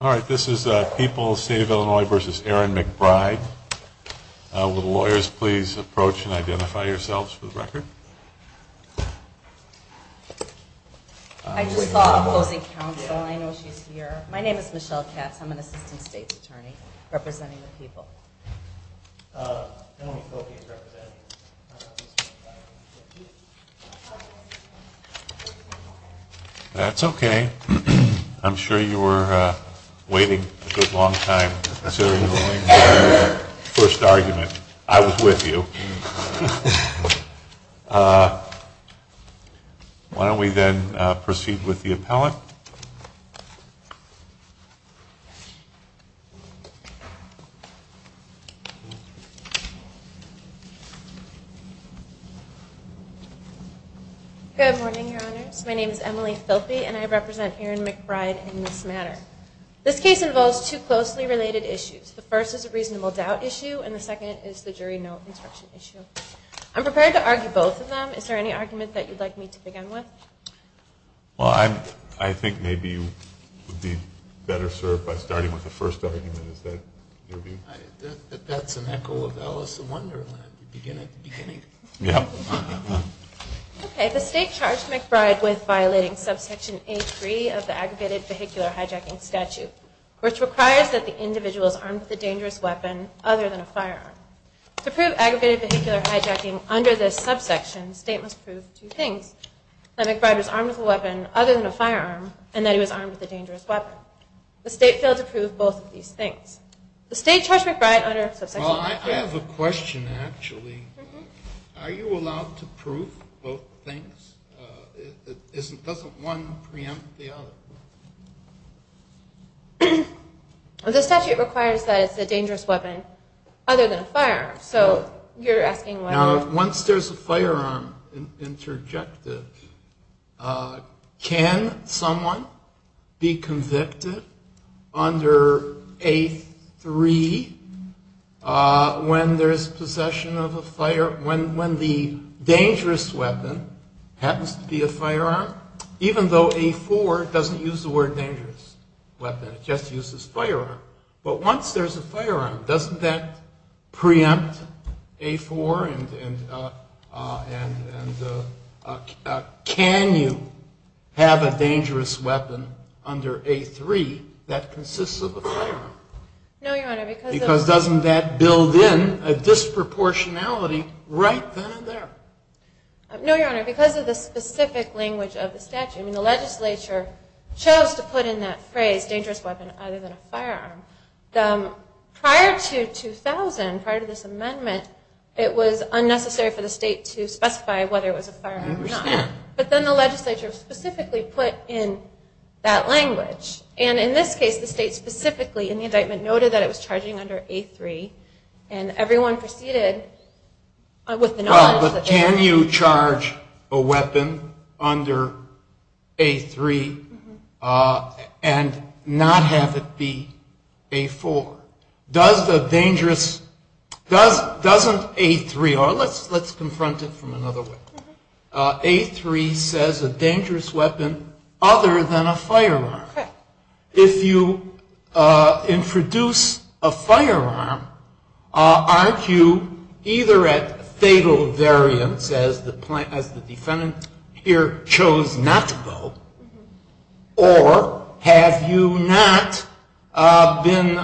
All right, this is People's State of Illinois v. Erin McBride. Will the lawyers please approach and identify yourselves for the record? I just saw opposing counsel. I know she's here. My name is Michelle Katz. I'm an assistant state's attorney representing the people. That's okay. I'm sure you were waiting a good long time considering the first argument. I was with you. Why don't we then proceed with the appellant? Good morning, Your Honors. My name is Emily Filpe, and I represent Erin McBride in this matter. This case involves two closely related issues. The first is a reasonable doubt issue, and the second is the jury no instruction issue. I'm prepared to argue both of them. Is there any argument that you'd like me to begin with? Well, I think maybe you would be better served by starting with the first argument. Is that your view? That's an echo of Alice in Wonderland. Begin at the beginning. Yeah. Okay, the state charged McBride with violating subsection A3 of the aggravated vehicular hijacking statute, which requires that the individuals armed with a dangerous weapon other than a firearm. To prove aggravated vehicular hijacking under this subsection, the state must prove two things. That McBride was armed with a weapon other than a firearm, and that he was armed with a dangerous weapon. The state failed to prove both of these things. The state charged McBride under subsection A3. Well, I have a question, actually. Are you allowed to prove both things? Doesn't one preempt the other? The statute requires that it's a dangerous weapon other than a firearm. So, you're asking whether... Now, once there's a firearm interjected, can someone be convicted under A3 when there's possession of a firearm, when the dangerous weapon happens to be a firearm, even though A4 doesn't use the word dangerous weapon. It just uses firearm. But once there's a firearm, doesn't that preempt A4? And can you have a dangerous weapon under A3 that consists of a firearm? No, Your Honor, because... Because doesn't that build in a disproportionality right then and there? No, Your Honor, because of the specific language of the statute. It's a dangerous weapon other than a firearm. Prior to 2000, prior to this amendment, it was unnecessary for the state to specify whether it was a firearm or not. But then the legislature specifically put in that language. And in this case, the state specifically, in the indictment, noted that it was charging under A3. And everyone proceeded with the knowledge that... Well, but can you charge a weapon under A3? And not have it be A4? Does the dangerous... Doesn't A3... Let's confront it from another way. A3 says a dangerous weapon other than a firearm. If you introduce a firearm, aren't you either at fatal variance, as the defendant here chose not to go? Or have you not been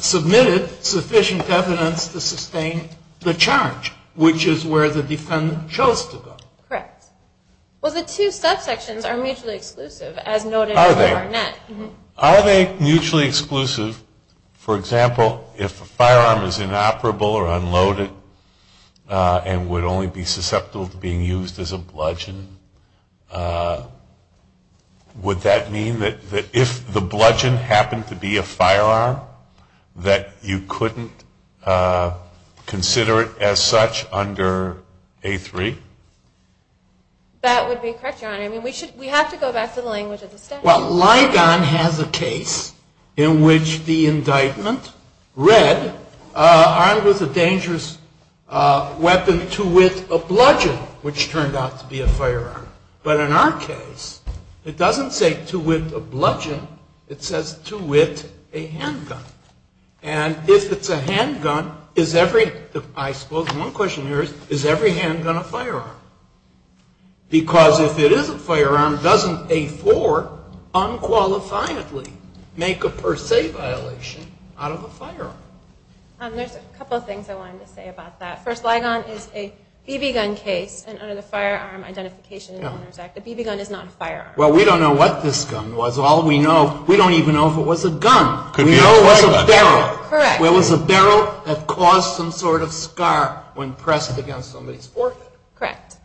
submitted sufficient evidence to sustain the charge, which is where the defendant chose to go? Correct. Well, the two subsections are mutually exclusive, as noted in Barnett. Are they mutually exclusive? For example, if a firearm is inoperable or unloaded and would only be susceptible to being used as a bludgeon, would that mean that if the bludgeon happened to be a firearm, that you couldn't consider it as such under A3? That would be correct, Your Honor. I mean, we have to go back to the language of the statute. Well, Ligon has a case in which the indictment read, armed with a dangerous weapon to wit a bludgeon, which turned out to be a firearm. But in our case, it doesn't say to wit a bludgeon. It says to wit a handgun. And if it's a handgun, is every... I suppose one question here is, is every handgun a firearm? Because if it is a firearm, doesn't A4 unqualifiably make a per se violation out of a firearm? There's a couple of things I wanted to say about that. First, Ligon is a BB gun case, and under the Firearm Identification and Owners Act, a BB gun is not a firearm. Well, we don't know what this gun was. All we know, we don't even know if it was a gun. We know it was a barrel. Correct. It was a barrel that caused some sort of scar when pressed against somebody's forehead. Correct.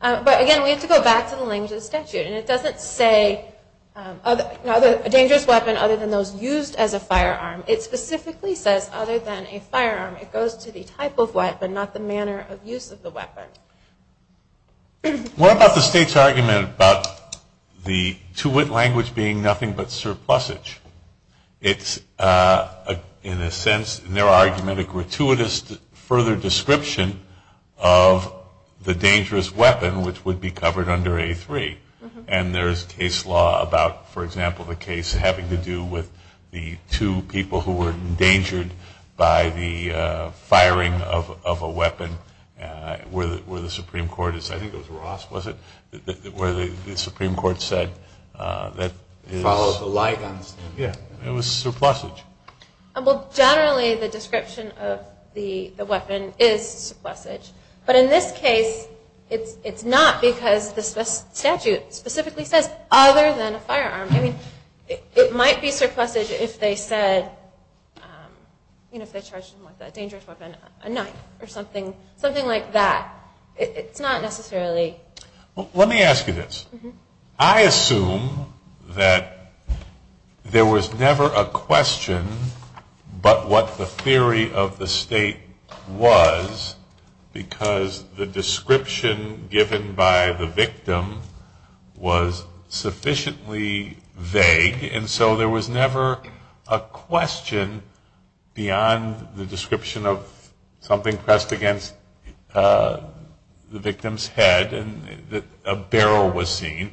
But again, we have to go back to the language of the statute, and it doesn't say a dangerous weapon other than those used as a firearm. It specifically says, other than a firearm, it goes to the type of weapon, not the manner of use of the weapon. What about the state's argument about the to wit language being nothing but surplusage? It's, in a sense, in their argument, a gratuitous further description of the dangerous weapon, which would be covered under A3. And there's case law about, for example, the case having to do with the two people who were endangered by the firing of a weapon, where the Supreme Court is, I think it was Ross, was it? Where the Supreme Court said that is... Followed the Ligon. Yeah, it was surplusage. Well, generally, the description of the weapon is surplusage. But in this case, it's not because the statute specifically says, other than a firearm. I mean, it might be surplusage if they said, you know, if they charged him with a dangerous weapon, a knife or something like that. It's not necessarily... Well, let me ask you this. I assume that there was never a question, but what the theory of the state was, because the description given by the victim was sufficiently vague. And so there was never a question beyond the description of something pressed against the victim's head and that a barrel was seen,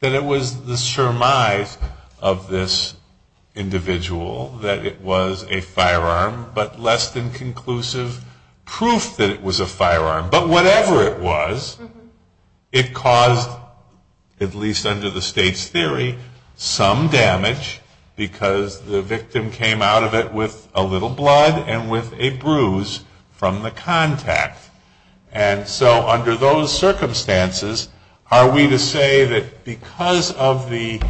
that it was the surmise of this individual, that it was a firearm, but less than conclusive proof that it was a firearm. But whatever it was, it caused, at least under the state's theory, some damage because the victim came out of it with a little blood and with a bruise from the contact. And so under those circumstances, are we to say that because of the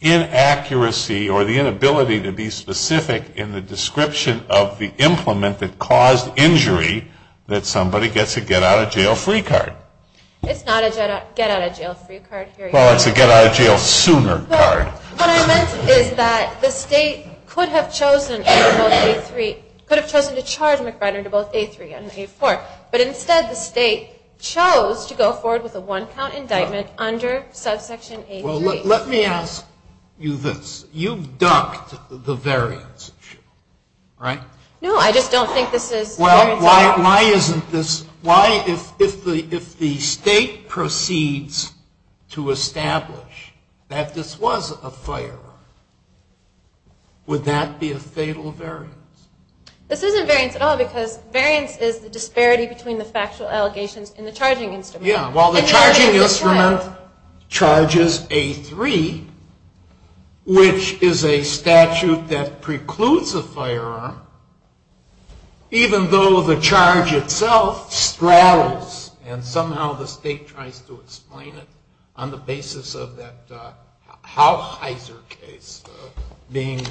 inaccuracy or the inability to be specific in the description of the implement that caused injury, that somebody gets a get-out-of-jail-free card? It's not a get-out-of-jail-free card. Well, it's a get-out-of-jail-sooner card. What I meant is that the state could have chosen to charge McBride under both A3 and A4, but instead the state chose to go forward with a one-count indictment under subsection A3. Well, let me ask you this. You've ducked the variance issue, right? No, I just don't think this is variance. Well, why isn't this... Why, if the state proceeds to establish that this was a firearm, would that be a fatal variance? This isn't variance at all, because variance is the disparity between the factual allegations and the charging instrument. Yeah, well, the charging instrument charges A3, which is a statute that precludes a firearm, even though the charge itself straddles, and somehow the state tries to explain it on the basis of that Howe-Heiser case being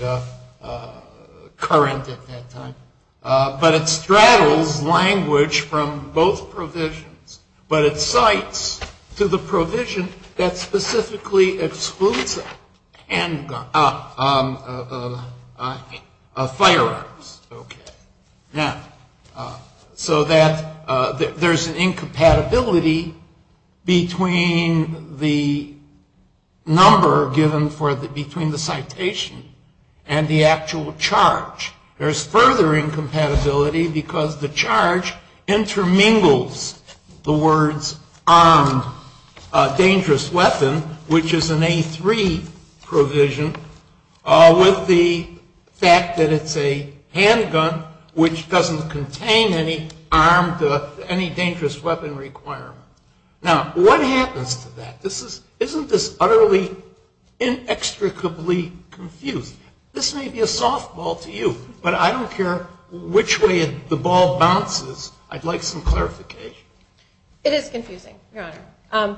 current at that time. But it straddles language from both provisions, but it cites to the provision that specifically excludes firearms. Okay. Now, so that there's an incompatibility between the number given for the... between the citation and the actual charge. There's further incompatibility because the charge intermingles the words armed dangerous weapon, which is an A3 provision, with the fact that it's a handgun, which doesn't contain any armed... Now, what happens to that? Isn't this utterly inextricably confused? This may be a softball to you, but I don't care which way the ball bounces. I'd like some clarification. It is confusing, Your Honor.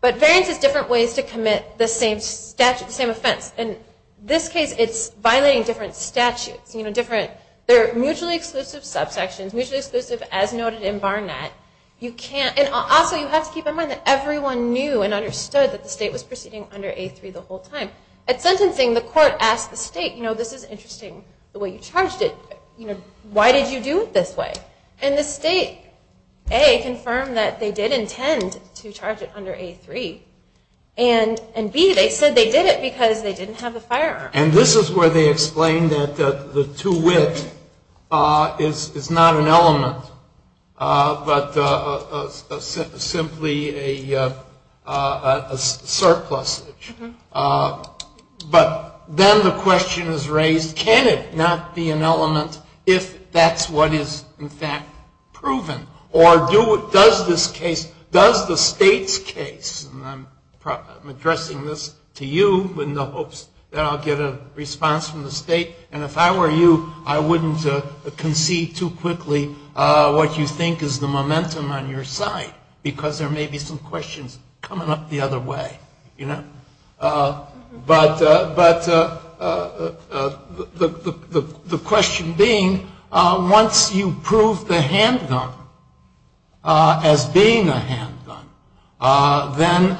But variance is different ways to commit the same offense. In this case, it's violating different statutes, you know, different... They're mutually exclusive subsections, mutually exclusive as noted in Barnett. You can't... And also, you have to keep in mind that everyone knew and understood that the state was proceeding under A3 the whole time. At sentencing, the court asked the state, you know, this is interesting the way you charged it. You know, why did you do it this way? And the state, A, confirmed that they did intend to charge it under A3, and B, they said they did it because they didn't have the firearm. And this is where they explain that the two-wit is not an element, but simply a surplusage. But then the question is raised, can it not be an element if that's what is, in fact, proven? Or does this case... Does the state's case... And I'm addressing this to you in the hopes that I'll get a response from the state. And if I were you, I wouldn't concede too quickly what you think is the momentum on your side, because there may be some questions coming up the other way, you know? But the question being, once you prove the handgun as being a handgun, then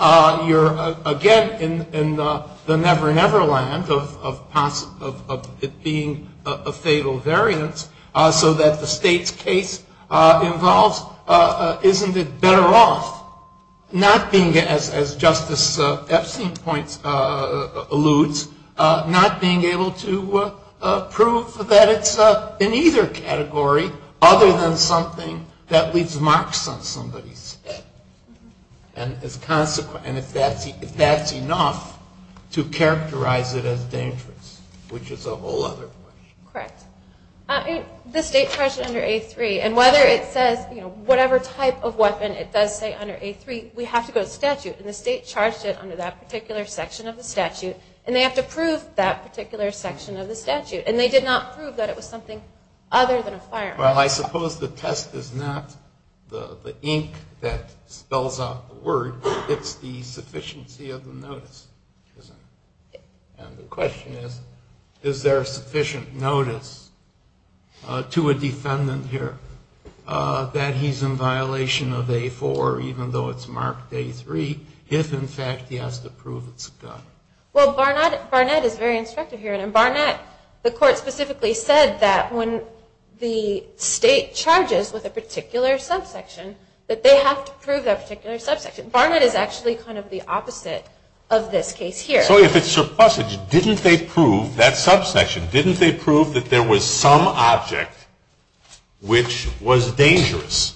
you're, again, in the never-never land of it being a fatal variance, so that the state's case involves, isn't it better off not being, as Justice Epstein points, alludes, not being able to prove that it's in either category other than something that leaves marks on somebody's head. And if that's enough to characterize it as dangerous, which is a whole other question. Correct. The state charged it under A3, and whether it says whatever type of weapon it does say under A3, we have to go to statute. And the state charged it under that particular section of the statute, and they have to prove that particular section of the statute. And they did not prove that it was something other than a firearm. Well, I suppose the test is not the ink that spells out the word. It's the sufficiency of the notice. And the question is, is there sufficient notice to a defendant here that he's in violation of A4, even though it's marked A3, if, in fact, he has to prove it's a gun? Well, Barnett is very instructive here. And in Barnett, the court specifically said that when the state charges with a particular subsection, that they have to prove that particular subsection. Barnett is actually kind of the opposite of this case here. So if it's surplusage, didn't they prove that subsection? Didn't they prove that there was some object which was dangerous?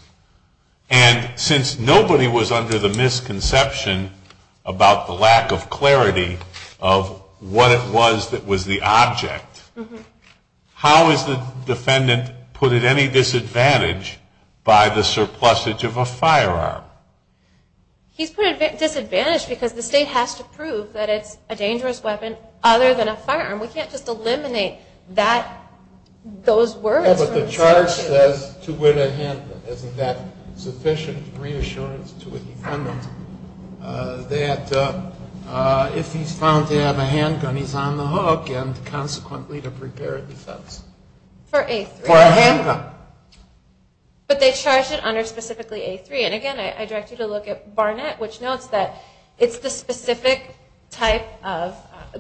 And since nobody was under the misconception about the lack of clarity of what it was that was the object, how is the defendant put at any disadvantage by the surplusage of a firearm? He's put at a disadvantage because the state has to prove that it's a dangerous weapon other than a firearm. We can't just eliminate those words. Well, but the charge says to win a handgun. Isn't that sufficient reassurance to a defendant that if he's found to have a handgun, he's on the hook, and consequently to prepare a defense? For A3. For a handgun. But they charge it under specifically A3. And again, I direct you to look at Barnett, which notes that it's the specific type of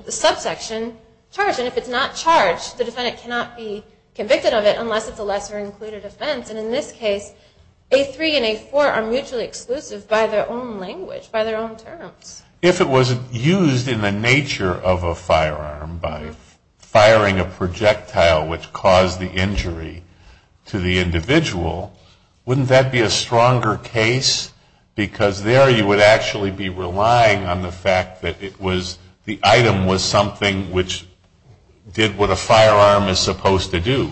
subsection charge. And if it's not charged, the defendant cannot be convicted of it unless it's a lesser included offense. And in this case, A3 and A4 are mutually exclusive by their own language, by their own terms. If it was used in the nature of a firearm by firing a projectile which caused the injury, to the individual, wouldn't that be a stronger case? Because there you would actually be relying on the fact that it was, the item was something which did what a firearm is supposed to do.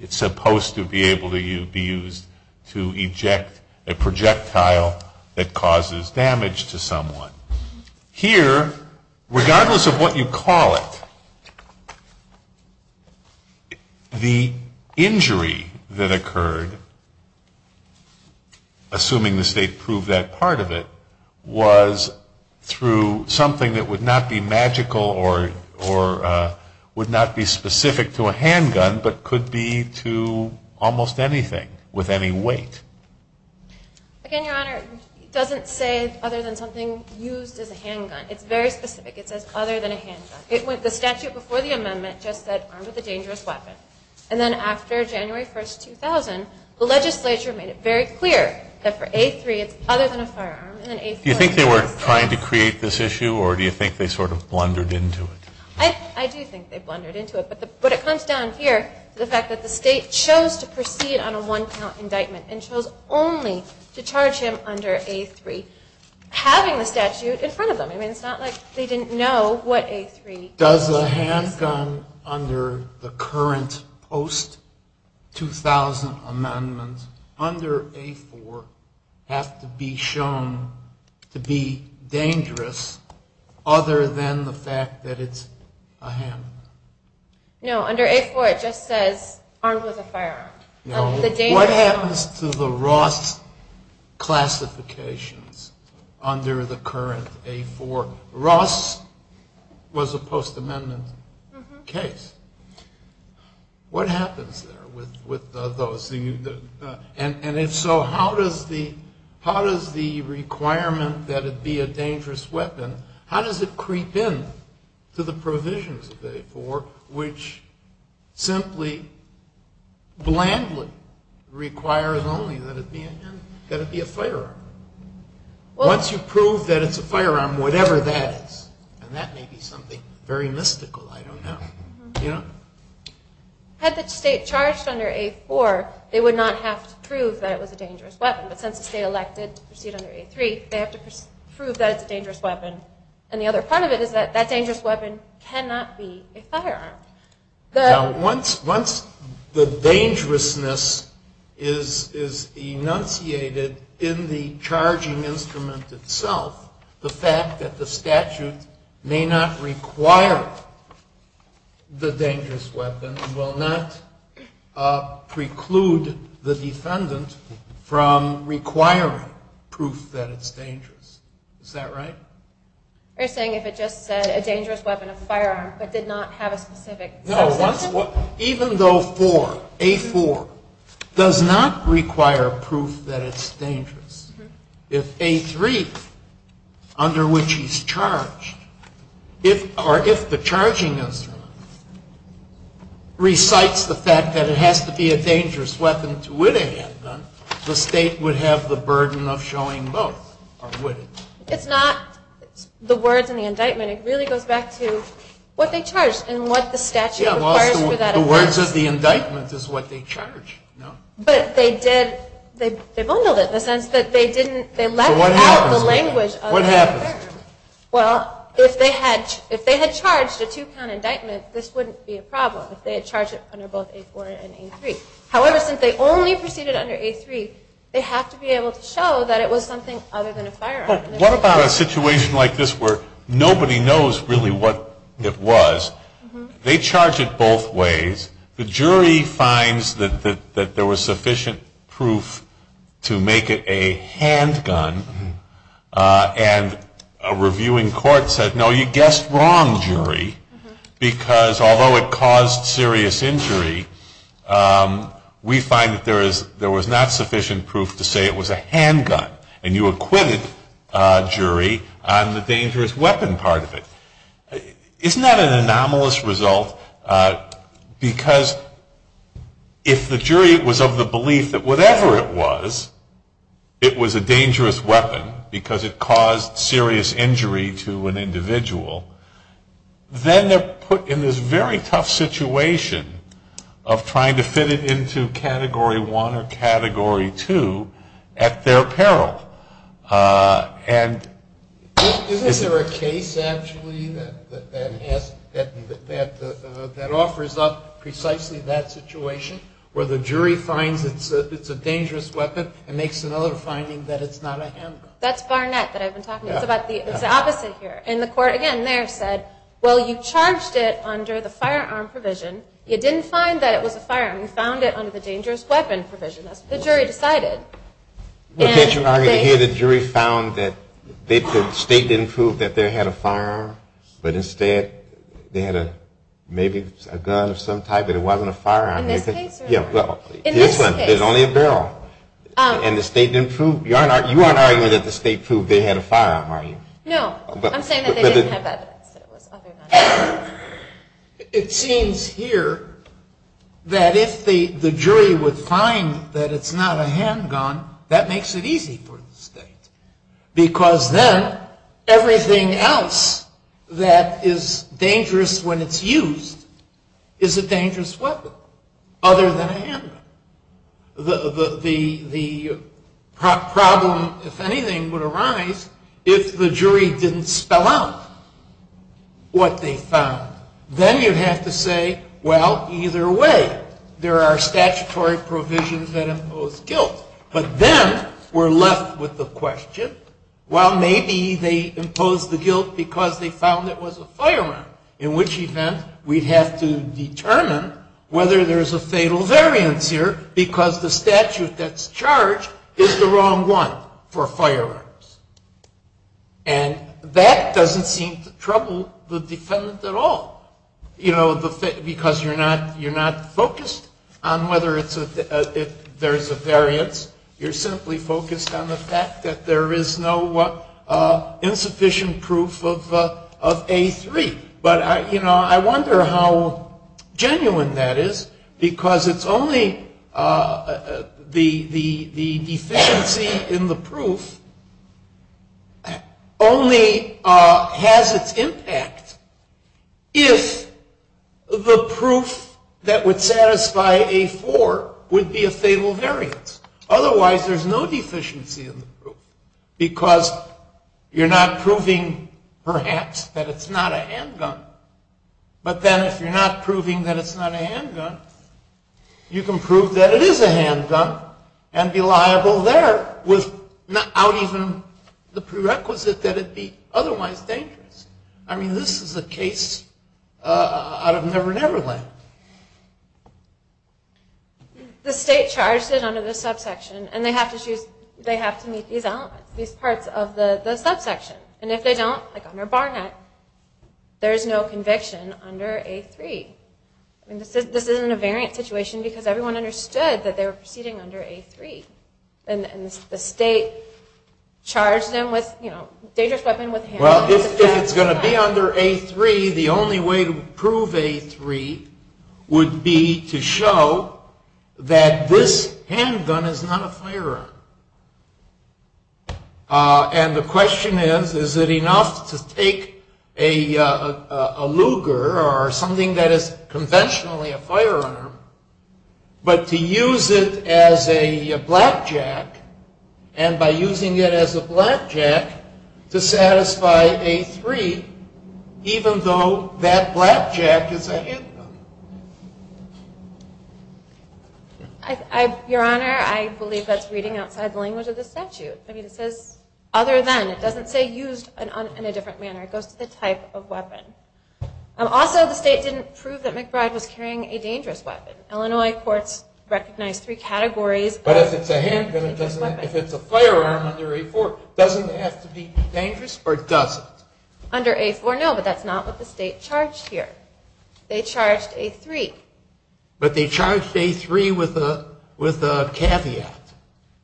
It's supposed to be able to be used to eject a projectile that causes damage to someone. Here, regardless of what you call it, the injury that occurred, assuming the state proved that part of it, was through something that would not be magical or would not be specific to a handgun, but could be to almost anything with any weight. Again, Your Honor, it doesn't say other than something used as a handgun. It's very specific. It says other than a handgun. The statute before the amendment just said armed with a dangerous weapon. And then after January 1st, 2000, the legislature made it very clear that for A3 it's other than a firearm. Do you think they were trying to create this issue or do you think they sort of blundered into it? I do think they blundered into it. But it comes down here to the fact that the state chose to proceed on a one-count indictment and chose only to charge him under A3 having the statute in front of them. It's not like they didn't know what A3 was. Does a handgun under the current post-2000 amendment under A4 have to be shown to be dangerous other than the fact that it's a handgun? No, under A4 it just says armed with a firearm. No, what happens to the Ross classifications under the current A4? Ross was a post-amendment case. What happens there with those? And if so, how does the requirement that it be a dangerous weapon, how does it creep in to the provisions of A4 which simply, blandly, requires only that it be a firearm? Once you prove that it's a firearm, whatever that is, and that may be something very mystical, I don't know. Had the state charged under A4, they would not have to prove that it was a dangerous weapon. But since the state elected to proceed under A3, they have to prove that it's a dangerous weapon. And the other part of it is that that dangerous weapon cannot be a firearm. Once the dangerousness is enunciated in the charging instrument itself, the fact that the statute may not require the dangerous weapon will not preclude the defendant from requiring proof that it's dangerous. Is that right? You're saying if it just said a dangerous weapon, a firearm, but did not have a specific subject? No, even though A4 does not require proof that it's dangerous, if A3, under which he's charged, or if the charging instrument recites the fact that it has to be a dangerous weapon to witness, the state would have the burden of showing both. It's not the words in the indictment. It really goes back to what they charged and what the statute requires for that. The words of the indictment is what they charged. But they bundled it in the sense that they let out the language. What happens? Well, if they had charged a two-count indictment, this wouldn't be a problem if they had charged it under both A4 and A3. However, since they only proceeded under A3, they have to be able to show that it was something other than a firearm. What about a situation like this where nobody knows really what it was? They charge it both ways. The jury finds that there was sufficient proof to make it a handgun. And a reviewing court said, no, you guessed wrong, jury, because although it caused serious injury, we find that there was not sufficient proof to say it was a handgun. And you acquitted a jury on the dangerous weapon part of it. Isn't that an anomalous result? Because if the jury was of the belief that whatever it was, it was a dangerous weapon because it caused serious injury to an individual, then they're put in this very tough situation of trying to fit it into Category 1 or Category 2 at their peril. Is there a case actually that offers up precisely that situation where the jury finds it's a dangerous weapon and makes another finding that it's not a handgun? That's Barnett that I've been talking about. It's the opposite here. And the court again there said, well, you charged it under the firearm provision. You didn't find that it was a firearm. You found it under the dangerous weapon provision. That's what the jury decided. Well, can't you argue that here the jury found that the state didn't prove that there had a firearm, but instead they had maybe a gun of some type but it wasn't a firearm? In this case? Yeah, well, in this one. In this case? There's only a barrel. And the state didn't prove, you aren't arguing that the state proved they had a firearm, are you? No, I'm saying that they didn't have evidence that it was other than a gun. It seems here that if the jury would find that it's not a handgun, that makes it easy for the state. Because then everything else that is dangerous when it's used is a dangerous weapon other than a handgun. The problem, if anything, would arise if the jury didn't spell out what they found. Then you'd have to say, well, either way, there are statutory provisions that impose guilt. But then we're left with the question, well, maybe they imposed the guilt because they found it was a firearm. In which event, we'd have to determine whether there's a fatal variance here because the statute that's charged is the wrong one for firearms. And that doesn't seem to trouble the defendant at all. Because you're not focused on whether there's a variance. You're simply focused on the fact that there is no insufficient proof of A3. But I wonder how genuine that is Only has its impact if the proof that would satisfy A4 would be a fatal variance. Otherwise, there's no deficiency in the proof because you're not proving, perhaps, that it's not a handgun. But then if you're not proving that it's not a handgun, you can prove that it is a handgun and be liable there without even the prerequisite that it be otherwise dangerous. I mean, this is a case out of Never Never Land. The state charged it under the subsection and they have to meet these elements, these parts of the subsection. And if they don't, like under Barnett, there's no conviction under A3. This isn't a variant situation because everyone understood that they were proceeding under A3. And the state charged them with a dangerous weapon with a handgun. Well, if it's going to be under A3, the only way to prove A3 would be to show that this handgun is not a firearm. And the question is, is it enough to take a Luger or something that is conventionally a firearm but to use it as a blackjack and by using it as a blackjack to satisfy A3 even though that blackjack is a handgun? Your Honor, I believe that's reading outside the language of the statute. I mean, it says other than. It doesn't say used in a different manner. It goes to the type of weapon. Also, the state didn't prove that McBride was carrying a dangerous weapon. Illinois courts recognize three categories. But if it's a handgun, if it's a firearm under A4, doesn't it have to be dangerous or does it? Under A4, no, but that's not what the state charged here. They charged A3. But they charged A3 with a caveat,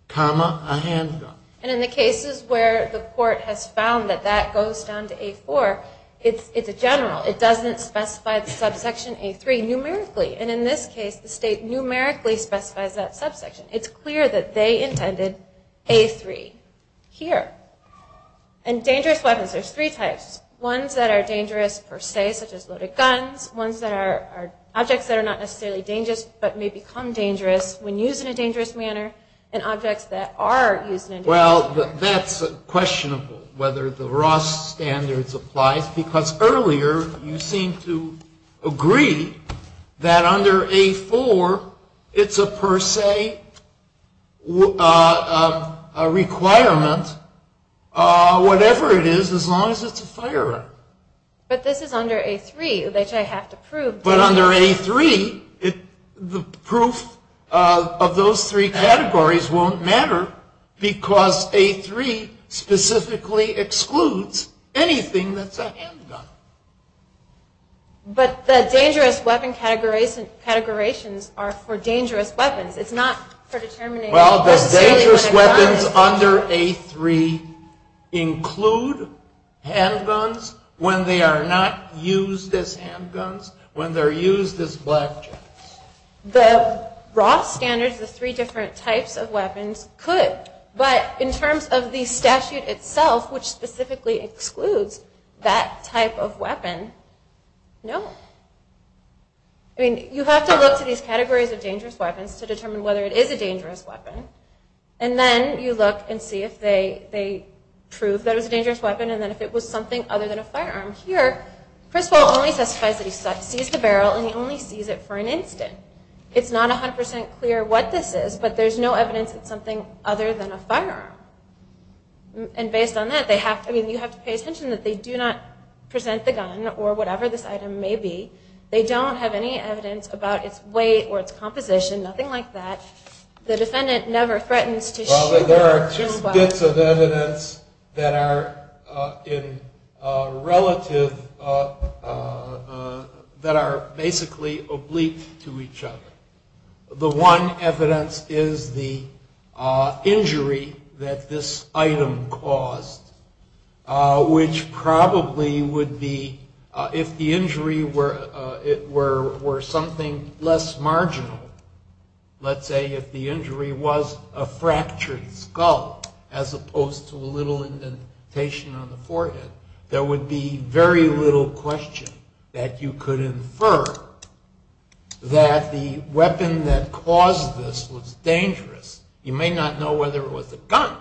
comma, a handgun. And in the cases where the court has found that that goes down to A4, it's a general. It doesn't specify the subsection A3 numerically. And in this case, the state numerically specifies that subsection. It's clear that they intended A3 here. And dangerous weapons, there's three types. Ones that are dangerous per se, such as loaded guns. Objects that are not necessarily dangerous but may become dangerous when used in a dangerous manner. And objects that are used in a dangerous manner. Well, that's questionable, whether the Ross standards apply. Because earlier, you seemed to agree that under A4, it's a per se requirement, whatever it is, as long as it's a firearm. But this is under A3, which I have to prove. But under A3, the proof of those three categories won't matter. Because A3 specifically excludes anything that's a handgun. But the dangerous weapon categorizations are for dangerous weapons. It's not for determining... Well, the dangerous weapons under A3 include handguns when they are not used as handguns, when they're used as black jets. The Ross standards, the three different types of weapons, could. But in terms of the statute itself, which specifically excludes that type of weapon, no. I mean, you have to look to these categories of dangerous weapons to determine whether it is a dangerous weapon. And then you look and see if they prove that it was a dangerous weapon and that if it was something other than a firearm. Here, Criswell only specifies that he sees the barrel and he only sees it for an instant. It's not 100% clear what this is, but there's no evidence that it's something other than a firearm. And based on that, you have to pay attention that they do not present the gun or whatever this item may be. They don't have any evidence about its weight or its composition, nothing like that. The defendant never threatens to shoot. Well, there are two bits of evidence that are relative, that are basically oblique to each other. The one evidence is the injury that this item caused, which probably would be if the injury were something less marginal. Let's say if the injury was a fractured skull as opposed to a little indentation on the forehead, there would be very little question that you could infer that the weapon that caused this was dangerous. You may not know whether it was a gun,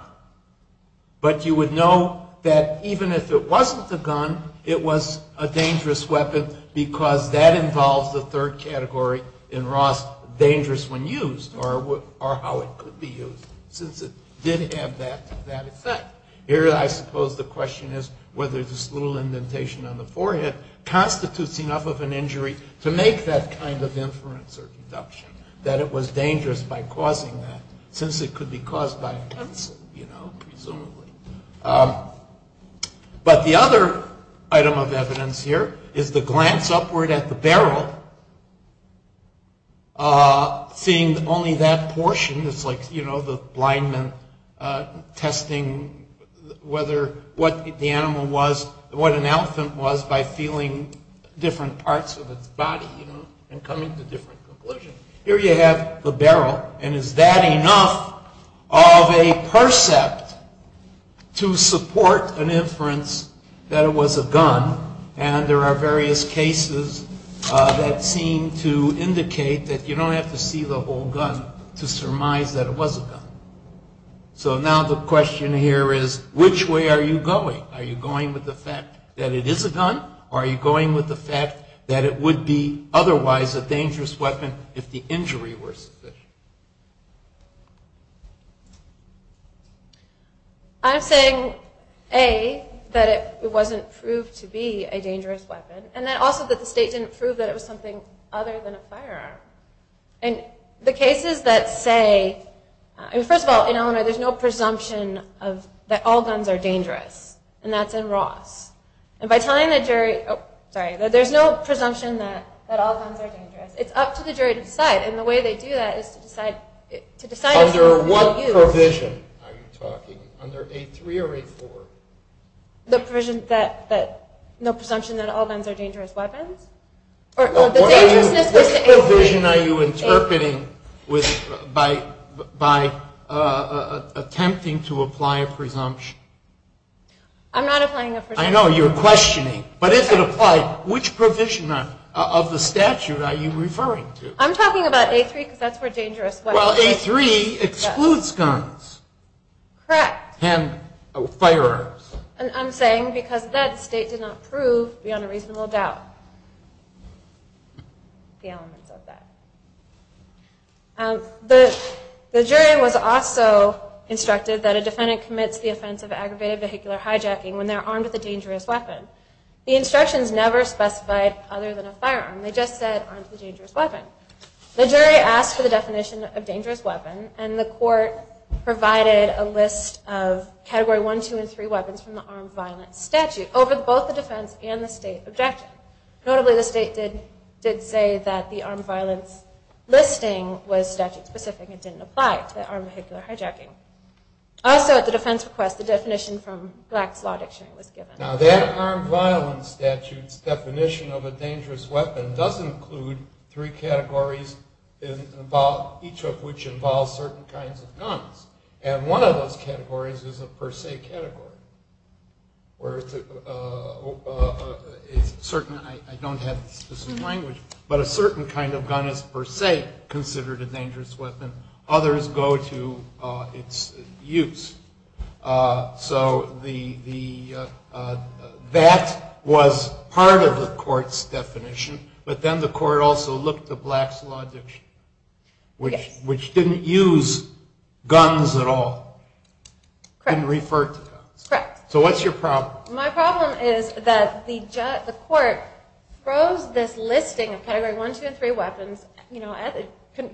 but you would know that even if it wasn't a gun, it was a dangerous weapon because that involves the third category in Ross, dangerous when used or how it could be used, since it did have that effect. Here I suppose the question is whether this little indentation on the forehead constitutes enough of an injury to make that kind of inference or deduction, that it was dangerous by causing that, since it could be caused by a pencil, you know, presumably. But the other item of evidence here is the glance upward at the barrel, seeing only that portion. It's like, you know, the blind man testing whether what the animal was, what an elephant was by feeling different parts of its body, you know, and coming to different conclusions. Here you have the barrel. And is that enough of a percept to support an inference that it was a gun? And there are various cases that seem to indicate that you don't have to see the whole gun to surmise that it was a gun. So now the question here is, which way are you going? Are you going with the fact that it would be otherwise a dangerous weapon if the injury were sufficient? I'm saying, A, that it wasn't proved to be a dangerous weapon, and also that the state didn't prove that it was something other than a firearm. And the cases that say, I mean, first of all, in Illinois, there's no presumption that all guns are dangerous, and that's in Ross. And by telling the jury, oh, sorry, that there's no presumption that all guns are dangerous. It's up to the jury to decide. And the way they do that is to decide if you will use. Under what provision are you talking? Under 8.3 or 8.4? The provision that no presumption that all guns are dangerous weapons. What provision are you interpreting by attempting to apply a presumption? I'm not applying a presumption. I know, you're questioning. But if it applied, which provision of the statute are you referring to? I'm talking about 8.3 because that's where dangerous weapons are. Well, 8.3 excludes guns. Correct. And firearms. I'm saying because that state did not prove beyond a reasonable doubt the elements of that. The jury was also instructed that a defendant commits the offense of aggravated vehicular hijacking when they're armed with a dangerous weapon. The instructions never specified other than a firearm. They just said armed with a dangerous weapon. The jury asked for the definition of dangerous weapon, and the court provided a list of Category 1, 2, and 3 weapons from the armed violence statute over both the defense and the state objective. Notably, the state did say that the armed violence listing was statute-specific and didn't apply to the armed vehicular hijacking. Also, at the defense request, the definition from GLAC's law dictionary was given. Now, that armed violence statute's definition of a dangerous weapon does include three categories, each of which involves certain kinds of guns. And one of those categories is a per se category, where it's a certain, I don't have the specific language, but a certain kind of gun is per se considered a dangerous weapon. Others go to its use. So that was part of the court's definition, but then the court also looked at GLAC's law dictionary, which didn't use guns at all. Didn't refer to guns. Correct. So what's your problem? My problem is that the court throws this listing of Category 1, 2, and 3 weapons,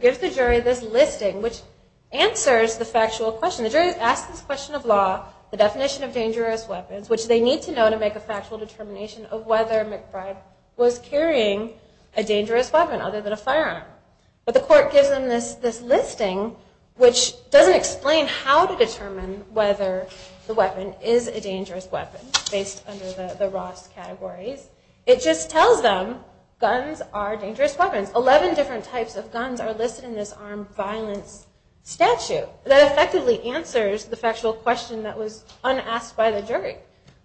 gives the jury this listing, which answers the factual question. The jury asks this question of law, the definition of dangerous weapons, which they need to know to make a factual determination of whether McBride was carrying a dangerous weapon other than a firearm. But the court gives them this listing, which doesn't explain how to determine whether the weapon is a dangerous weapon, based under the Ross categories. It just tells them guns are dangerous weapons. Eleven different types of guns are listed in this armed violence statute. That effectively answers the factual question that was unasked by the jury.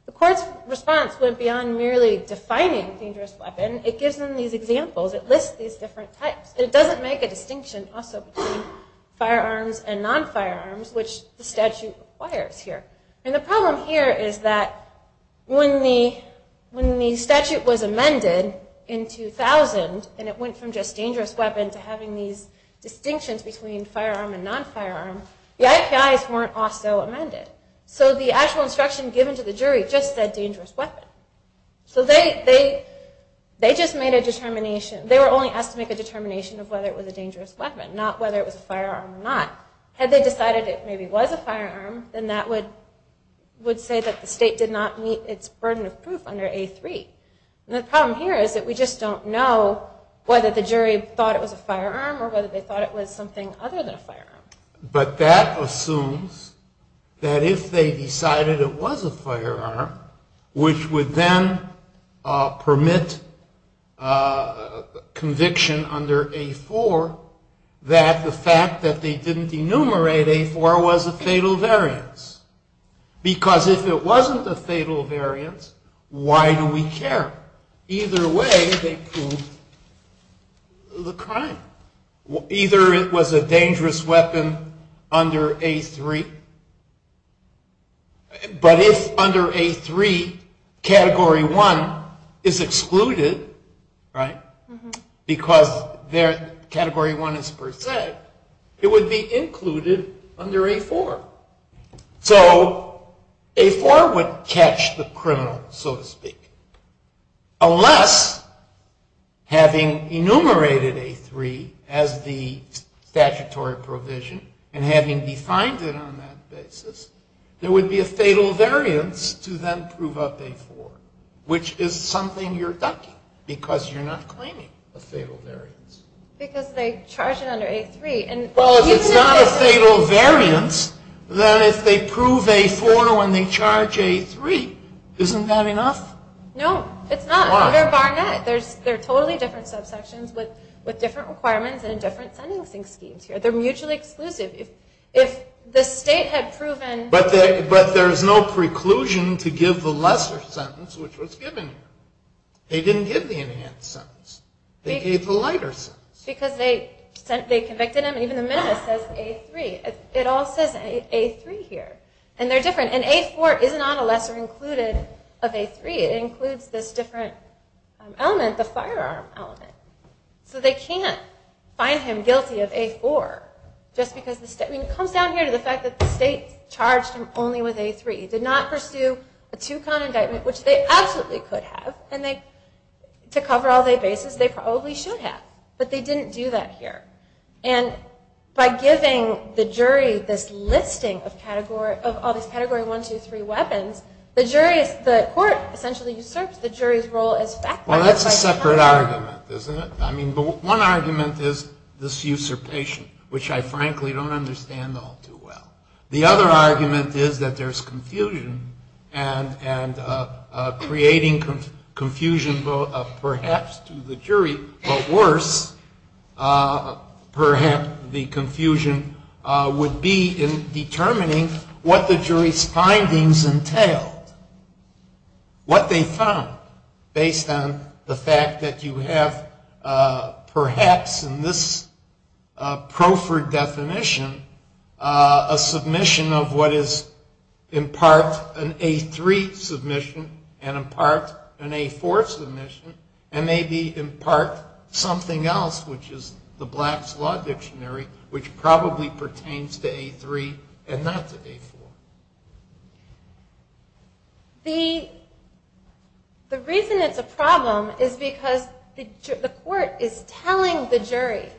The court's response went beyond merely defining dangerous weapon. It gives them these examples. It lists these different types. It doesn't make a distinction also between firearms and non-firearms, which the statute requires here. And the problem here is that when the statute was amended in 2000, and it went from just dangerous weapon to having these distinctions between firearm and non-firearm, the IPIs weren't also amended. So the actual instruction given to the jury just said dangerous weapon. So they just made a determination. They were only asked to make a determination of whether it was a dangerous weapon, not whether it was a firearm or not. Had they decided it maybe was a firearm, then that would say that the state did not meet its burden of proof under A3. And the problem here is that we just don't know whether the jury thought it was a firearm or whether they thought it was something other than a firearm. But that assumes that if they decided it was a firearm, which would then permit conviction under A4, that the fact that they didn't enumerate A4 was a fatal variance. Because if it wasn't a fatal variance, why do we care? Either way, they proved the crime. Either it was a dangerous weapon under A3. But if under A3, Category 1 is excluded, right, because Category 1 is per se, it would be included under A4. So A4 would catch the criminal, so to speak, unless having enumerated A3 as the statutory provision and having defined it on that basis, there would be a fatal variance to then prove up A4, which is something you're ducking because you're not claiming a fatal variance. Because they charged it under A3. Well, if it's not a fatal variance, then if they prove A4 when they charge A3, isn't that enough? No, it's not. Under Barnett, there are totally different subsections with different requirements and different sentencing schemes here. They're mutually exclusive. If the state had proven... But there's no preclusion to give the lesser sentence, which was given here. They didn't give the enhanced sentence. They gave the lighter sentence. Because they convicted him, and even the minimus says A3. It all says A3 here. And they're different. And A4 is not a lesser included of A3. It includes this different element, the firearm element. So they can't find him guilty of A4 just because the state... It comes down here to the fact that the state charged him only with A3. It did not pursue a two-con indictment, which they absolutely could have. And to cover all their bases, they probably should have. But they didn't do that here. And by giving the jury this listing of all these Category 1, 2, 3 weapons, Well, that's a separate argument, isn't it? I mean, one argument is this usurpation, which I frankly don't understand all too well. The other argument is that there's confusion, and creating confusion perhaps to the jury, but worse, perhaps the confusion would be in determining what the jury's findings entailed, what they found based on the fact that you have, perhaps in this proffered definition, a submission of what is in part an A3 submission and in part an A4 submission, and maybe in part something else, which is the Black's Law Dictionary, which probably pertains to A3 and not to A4. The reason it's a problem is because the court is telling the jury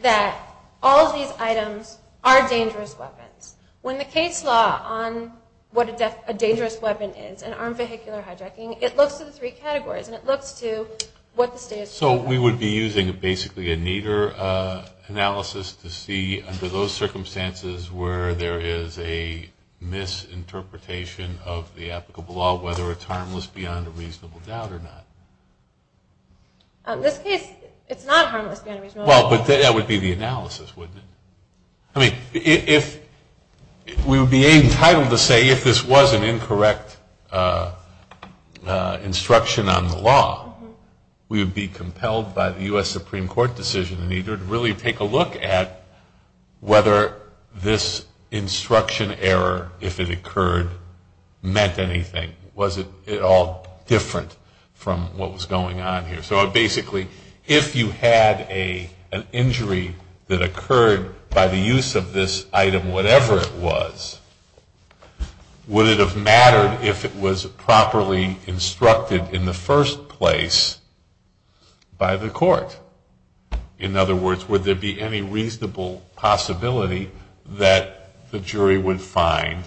that all of these items are dangerous weapons. When the case law on what a dangerous weapon is, an armed vehicular hijacking, it looks to the three categories, and it looks to what the state has proven. So we would be using basically a Nader analysis to see, under those circumstances, where there is a misinterpretation of the applicable law, whether it's harmless beyond a reasonable doubt or not. In this case, it's not harmless beyond a reasonable doubt. Well, but that would be the analysis, wouldn't it? I mean, we would be entitled to say if this was an incorrect instruction on the law, we would be compelled by the U.S. Supreme Court decision, and you would really take a look at whether this instruction error, if it occurred, meant anything. Was it at all different from what was going on here? So basically, if you had an injury that occurred by the use of this item, whatever it was, would it have mattered if it was properly instructed in the first place by the court? In other words, would there be any reasonable possibility that the jury would find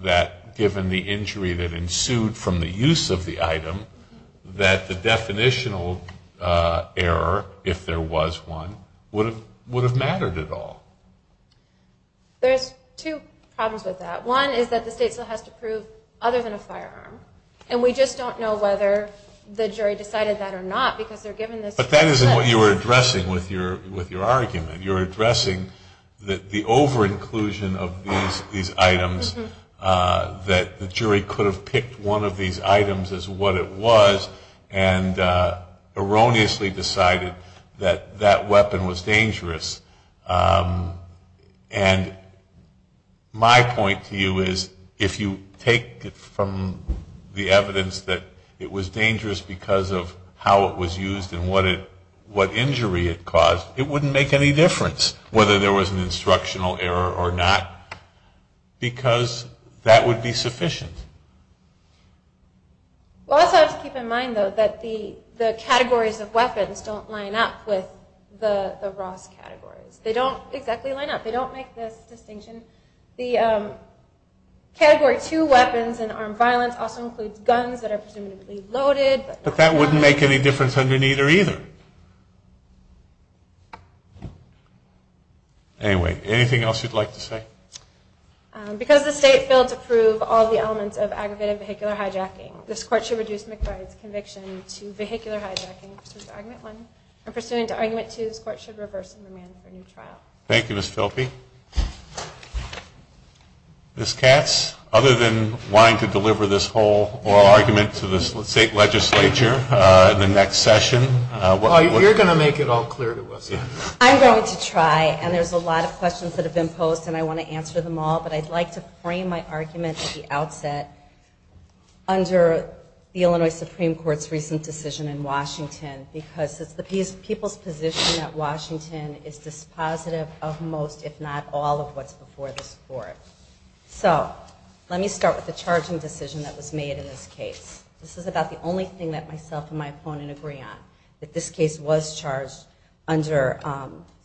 that, given the injury that ensued from the use of the item, that the definitional error, if there was one, would have mattered at all? There's two problems with that. One is that the state still has to prove other than a firearm, and we just don't know whether the jury decided that or not because they're given this. But that isn't what you were addressing with your argument. You're addressing the over-inclusion of these items, that the jury could have picked one of these items as what it was and erroneously decided that that weapon was dangerous. And my point to you is, if you take from the evidence that it was dangerous because of how it was used and what injury it caused, it wouldn't make any difference whether there was an instructional error or not, because that would be sufficient. Well, I also have to keep in mind, though, that the categories of weapons don't line up with the Ross categories. They don't exactly line up. They don't make this distinction. The Category 2 weapons in armed violence also includes guns that are presumably loaded. But that wouldn't make any difference under neither, either. Anyway, anything else you'd like to say? Because the state failed to prove all the elements of aggravated vehicular hijacking, this Court should reduce McBride's conviction to vehicular hijacking pursuant to Argument 1. And pursuant to Argument 2, this Court should reverse the demand for a new trial. Thank you, Ms. Filpi. Ms. Katz, other than wanting to deliver this whole oral argument to the State Legislature in the next session. You're going to make it all clear to us. I'm going to try. And there's a lot of questions that have been posed, and I want to answer them all. But I'd like to frame my argument at the outset under the Illinois Supreme Court's recent decision in Washington, because it's the people's position that Washington is dispositive of most, if not all, of what's before this Court. So let me start with the charging decision that was made in this case. This is about the only thing that myself and my opponent agree on, that this case was charged under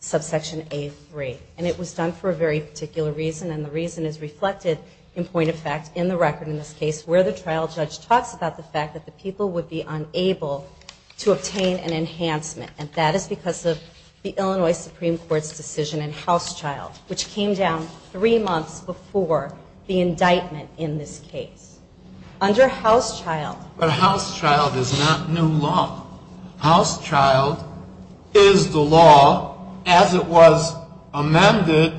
Subsection A3. And it was done for a very particular reason, and the reason is reflected in point of fact in the record in this case, where the trial judge talks about the fact that the people would be unable to obtain an enhancement. And that is because of the Illinois Supreme Court's decision in Housechild, which came down three months before the indictment in this case. Under Housechild. But Housechild is not new law. Housechild is the law as it was amended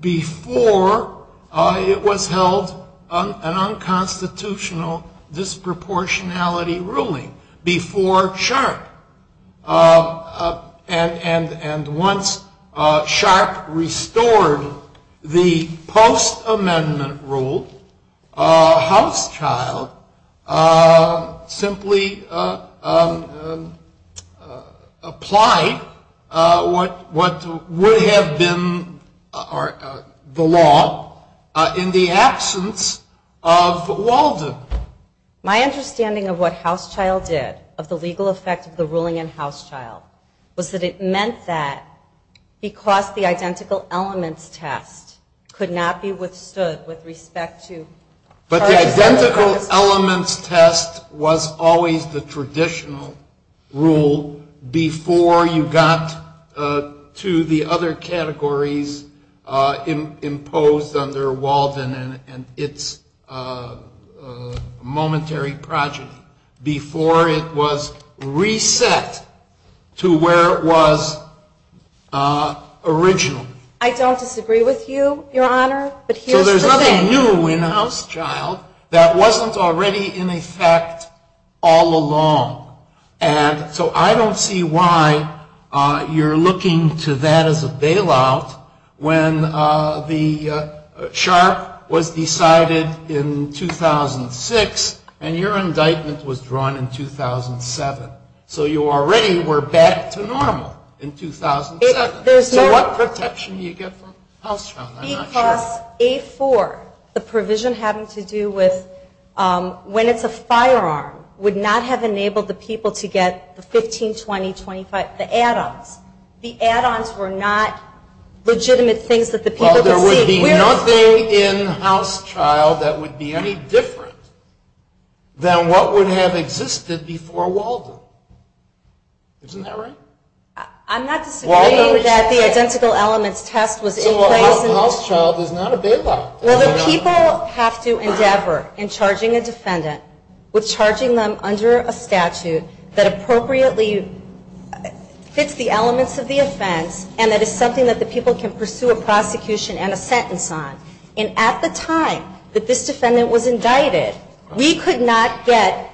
before it was held an unconstitutional disproportionality ruling, before Sharp. And once Sharp restored the post-amendment rule, Housechild simply applied what would have been the law in the absence of Walden. My understanding of what Housechild did, of the legal effect of the ruling in Housechild, was that it meant that because the identical elements test could not be withstood with respect to... But the identical elements test was always the traditional rule before you got to the other categories imposed under Walden and its momentary project. Before it was reset to where it was original. I don't disagree with you, Your Honor, but here's the thing. I knew in Housechild that wasn't already in effect all along. And so I don't see why you're looking to that as a bailout when the Sharp was decided in 2006 and your indictment was drawn in 2007. So you already were back to normal in 2007. So what protection do you get from Housechild? Because A4, the provision having to do with when it's a firearm, would not have enabled the people to get the 15, 20, 25, the add-ons. The add-ons were not legitimate things that the people could see. Well, there would be nothing in Housechild that would be any different than what would have existed before Walden. Isn't that right? I'm not disagreeing that the identical elements test was in place... So Housechild is not a bailout. Well, the people have to endeavor in charging a defendant with charging them under a statute that appropriately fits the elements of the offense and that is something that the people can pursue a prosecution and a sentence on. And at the time that this defendant was indicted, we could not get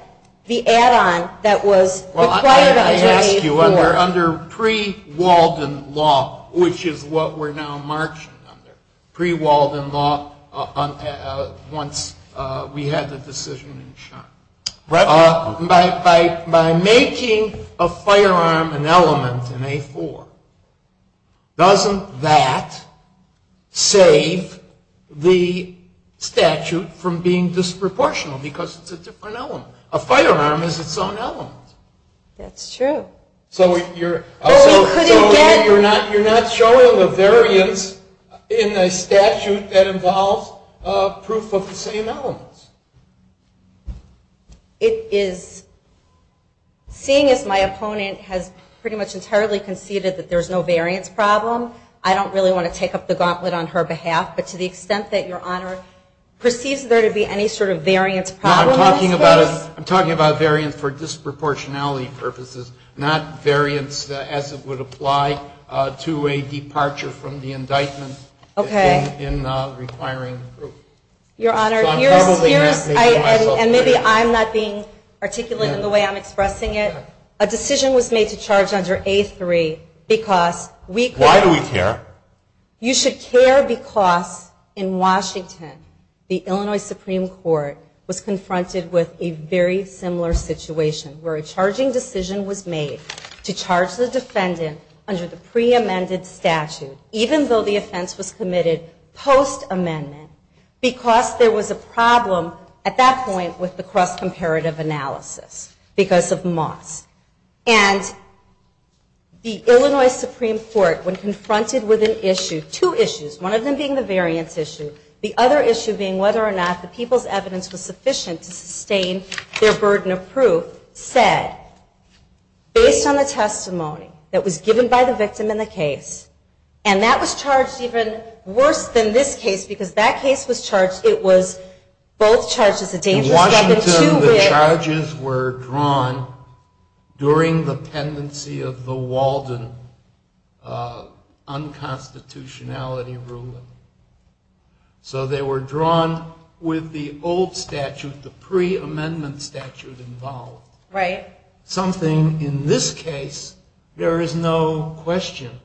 the add-on that was required under A4. Let me ask you, under pre-Walden law, which is what we're now marching under, pre-Walden law, once we had the decision in charge, by making a firearm an element in A4, doesn't that save the statute from being disproportional because it's a different element? A firearm is its own element. That's true. So you're not showing a variance in a statute that involves proof of the same elements? It is. Seeing as my opponent has pretty much entirely conceded that there's no variance problem, I don't really want to take up the gauntlet on her behalf, but to the extent that Your Honor perceives there to be any sort of variance problem... I'm talking about variance for disproportionality purposes, not variance as it would apply to a departure from the indictment in requiring proof. Your Honor, and maybe I'm not being articulate in the way I'm expressing it. A decision was made to charge under A3 because we... Why do we care? You should care because in Washington the Illinois Supreme Court was confronted with a very similar situation where a charging decision was made to charge the defendant under the pre-amended statute, even though the offense was committed post-amendment, because there was a problem at that point with the cross-comparative analysis because of Moss. And the Illinois Supreme Court, when confronted with an issue, two issues, one of them being the variance issue, the other issue being whether or not the people's evidence was sufficient to sustain their burden of proof, said, based on the testimony that was given by the victim in the case, and that was charged even worse than this case because that case was charged... In Washington the charges were drawn during the pendency of the Walden unconstitutionality ruling. So they were drawn with the old statute, the pre-amendment statute involved. Right. Something in this case, there is no question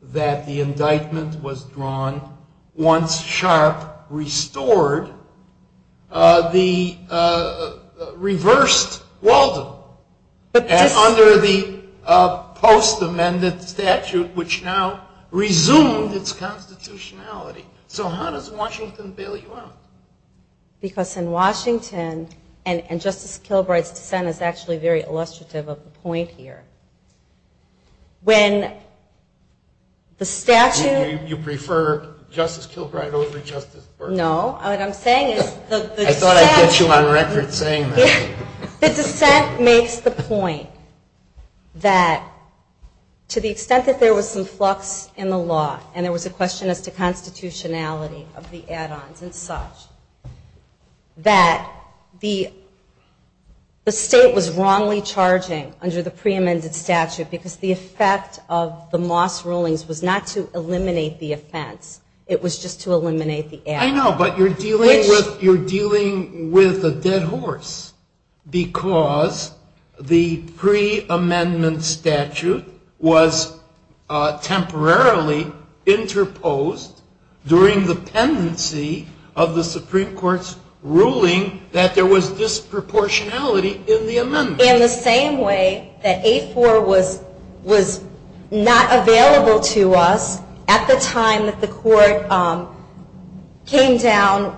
that the indictment was drawn once Sharp restored the reversed Walden under the post-amended statute, which now resumed its constitutionality. So how does Washington bail you out? Because in Washington, and Justice Kilbride's dissent is actually very illustrative of the point here, when the statute... You prefer Justice Kilbride over Justice Bergeron? No, what I'm saying is... I thought I'd get you on record saying that. The dissent makes the point that to the extent that there was some flux in the law and there was a question as to constitutionality of the add-ons and such, that the state was wrongly charging under the pre-amended statute because the effect of the Moss rulings was not to eliminate the offense, it was just to eliminate the add-on. I know, but you're dealing with a dead horse because the pre-amendment statute was temporarily interposed during the pendency of the Supreme Court's ruling that there was disproportionality in the amendment. In the same way that A-4 was not available to us at the time that the court came down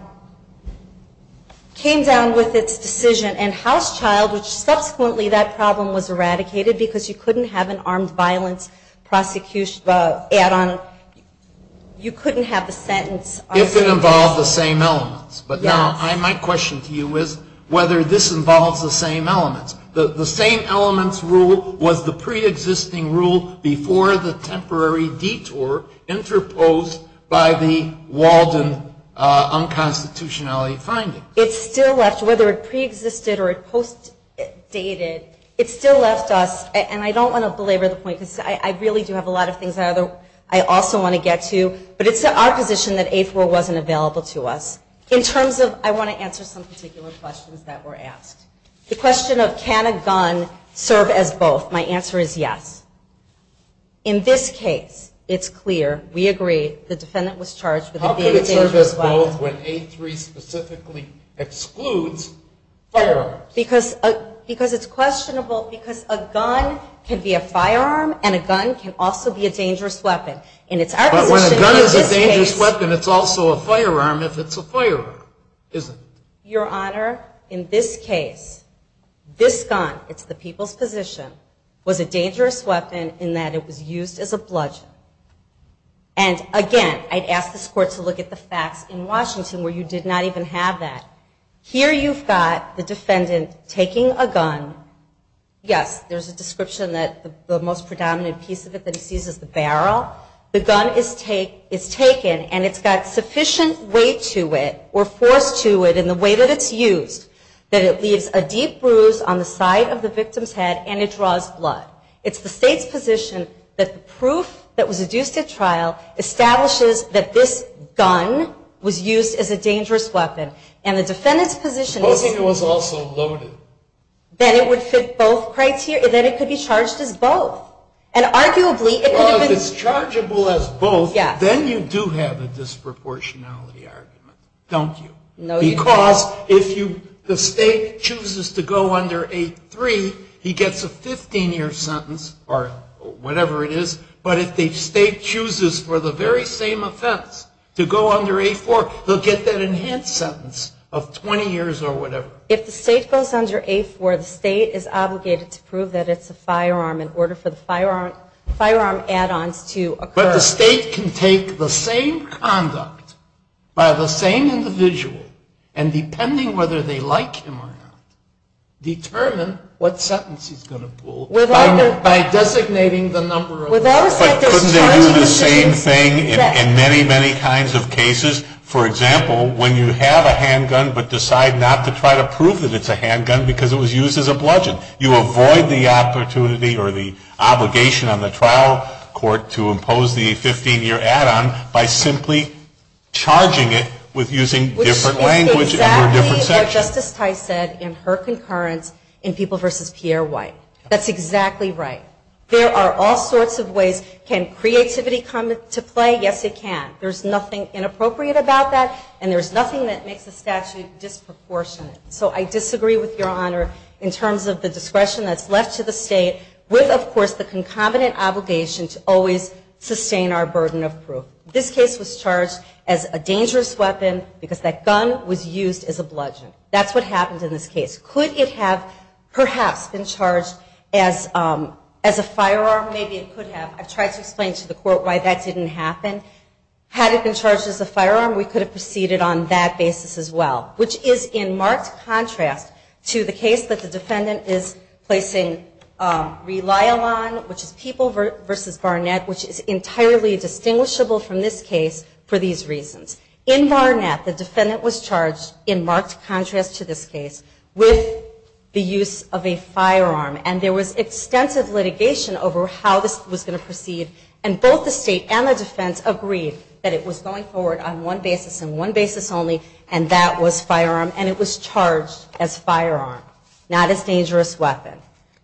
with its decision and House Child, which subsequently that problem was eradicated because you couldn't have an armed violence prosecution add-on, you couldn't have the sentence... If it involved the same elements. But my question to you is whether this involves the same elements. The same elements rule was the pre-existing rule before the temporary detour interposed by the Walden unconstitutionality findings. It still left, whether it pre-existed or post-dated, it still left us, and I don't want to belabor the point because I really do have a lot of things I also want to get to, but it's our position that A-4 wasn't available to us. In terms of, I want to answer some particular questions that were asked. The question of can a gun serve as both, my answer is yes. In this case, it's clear, we agree, the defendant was charged with being a dangerous violent. How can it serve as both when A-3 specifically excludes firearms? Because it's questionable because a gun can be a firearm and a gun can also be a dangerous weapon. But when a gun is a dangerous weapon, it's also a firearm if it's a firearm, isn't it? Your Honor, in this case, this gun, it's the people's position, was a dangerous weapon in that it was used as a bludgeon. And again, I'd ask this Court to look at the facts in Washington where you did not even have that. Here you've got the defendant taking a gun. Yes, there's a description that the most predominant piece of it that he sees is the barrel. The gun is taken and it's got sufficient weight to it or force to it in the way that it's used that it leaves a deep bruise on the side of the victim's head and it draws blood. It's the state's position that the proof that was adduced at trial establishes that this gun was used as a dangerous weapon. And the defendant's position is... I don't think it was also loaded. Then it would fit both criteria. Then it could be charged as both. And arguably... Well, if it's chargeable as both, then you do have a disproportionality argument, don't you? No, you don't. Because if the state chooses to go under A-3, he gets a 15-year sentence or whatever it is. But if the state chooses for the very same offense, to go under A-4, they'll get that enhanced sentence of 20 years or whatever. If the state goes under A-4, the state is obligated to prove that it's a firearm in order for the firearm add-ons to occur. But the state can take the same conduct by the same individual and depending whether they like him or not, determine what sentence he's going to pull by designating the number of... But there is the same thing in many, many kinds of cases. For example, when you have a handgun but decide not to try to prove that it's a handgun because it was used as a bludgeon, you avoid the opportunity or the obligation on the trial court to impose the 15-year add-on by simply charging it with using different language for a different section. Which is exactly what Justice Tice said in her concurrence in People v. Pierre White. That's exactly right. There are all sorts of ways. Can creativity come into play? Yes, it can. There's nothing inappropriate about that, and there's nothing that makes the statute disproportionate. So I disagree with Your Honor in terms of the discretion that's left to the state with, of course, the concomitant obligation to always sustain our burden of proof. This case was charged as a dangerous weapon because that gun was used as a bludgeon. That's what happened in this case. Could it have perhaps been charged as a firearm? Maybe it could have. I've tried to explain to the court why that didn't happen. Had it been charged as a firearm, we could have proceeded on that basis as well, which is in marked contrast to the case that the defendant is placing Rely-A-Lon, which is People v. Barnett, which is entirely distinguishable from this case for these reasons. In Barnett, the defendant was charged, in marked contrast to this case, with the use of a firearm. And there was extensive litigation over how this was going to proceed, and both the state and the defense agreed that it was going forward on one basis and one basis only, and that was firearm, and it was charged as firearm, not as dangerous weapon.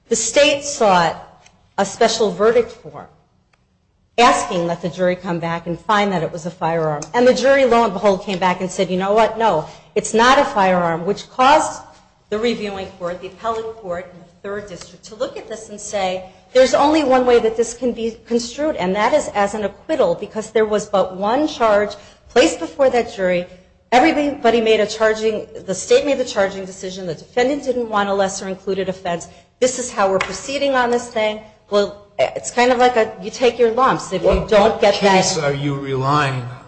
The state sought a special verdict for it, asking that the jury come back and find that it was a firearm. And the jury, lo and behold, came back and said, you know what, no, it's not a firearm, which caused the reviewing court, the appellate court, and the third district to look at this and say, there's only one way that this can be construed, and that is as an acquittal because there was but one charge placed before that jury, everybody made a charging, the state made the charging decision, the defendant didn't want a lesser included offense, this is how we're proceeding on this thing. Well, it's kind of like you take your lumps if you don't get that. What case are you relying on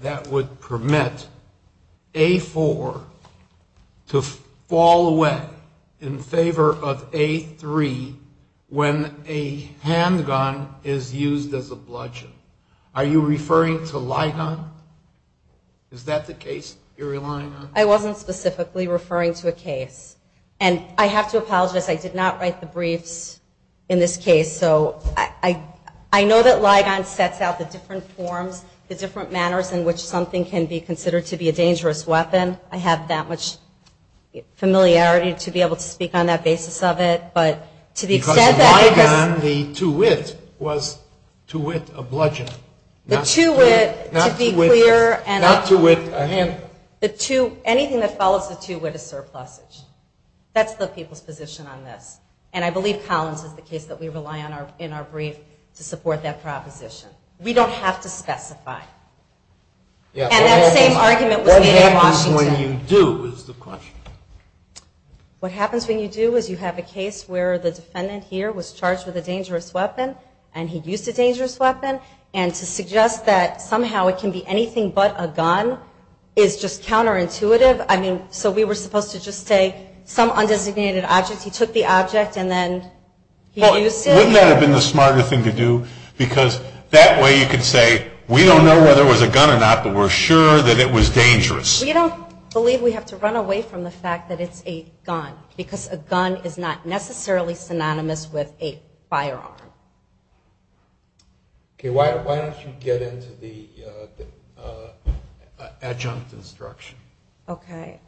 that would permit A-4 to fall away in favor of A-3 when a handgun is used as a bludgeon? Are you referring to Ligon? Is that the case you're relying on? I wasn't specifically referring to a case. And I have to apologize, I did not write the briefs in this case, so I know that Ligon sets out the different forms, the different manners in which something can be considered to be a dangerous weapon, I have that much familiarity to be able to speak on that basis of it, because Ligon, the two-wit, was two-wit a bludgeon, not two-wit a handgun. Anything that follows the two-wit is surplusage. That's the people's position on this. And I believe Collins is the case that we rely on in our brief to support that proposition. We don't have to specify. And that same argument was made in Washington. What happens when you do is the question. What happens when you do is you have a case where the defendant here was charged with a dangerous weapon and he used a dangerous weapon, and to suggest that somehow it can be anything but a gun is just counterintuitive. I mean, so we were supposed to just say some undesignated object, he took the object and then he used it? Wouldn't that have been the smarter thing to do? Because that way you could say, we don't know whether it was a gun or not, but we're sure that it was dangerous. We don't believe we have to run away from the fact that it's a gun, because a gun is not necessarily synonymous with a firearm. Okay, why don't you get into the adjunct instruction? Okay.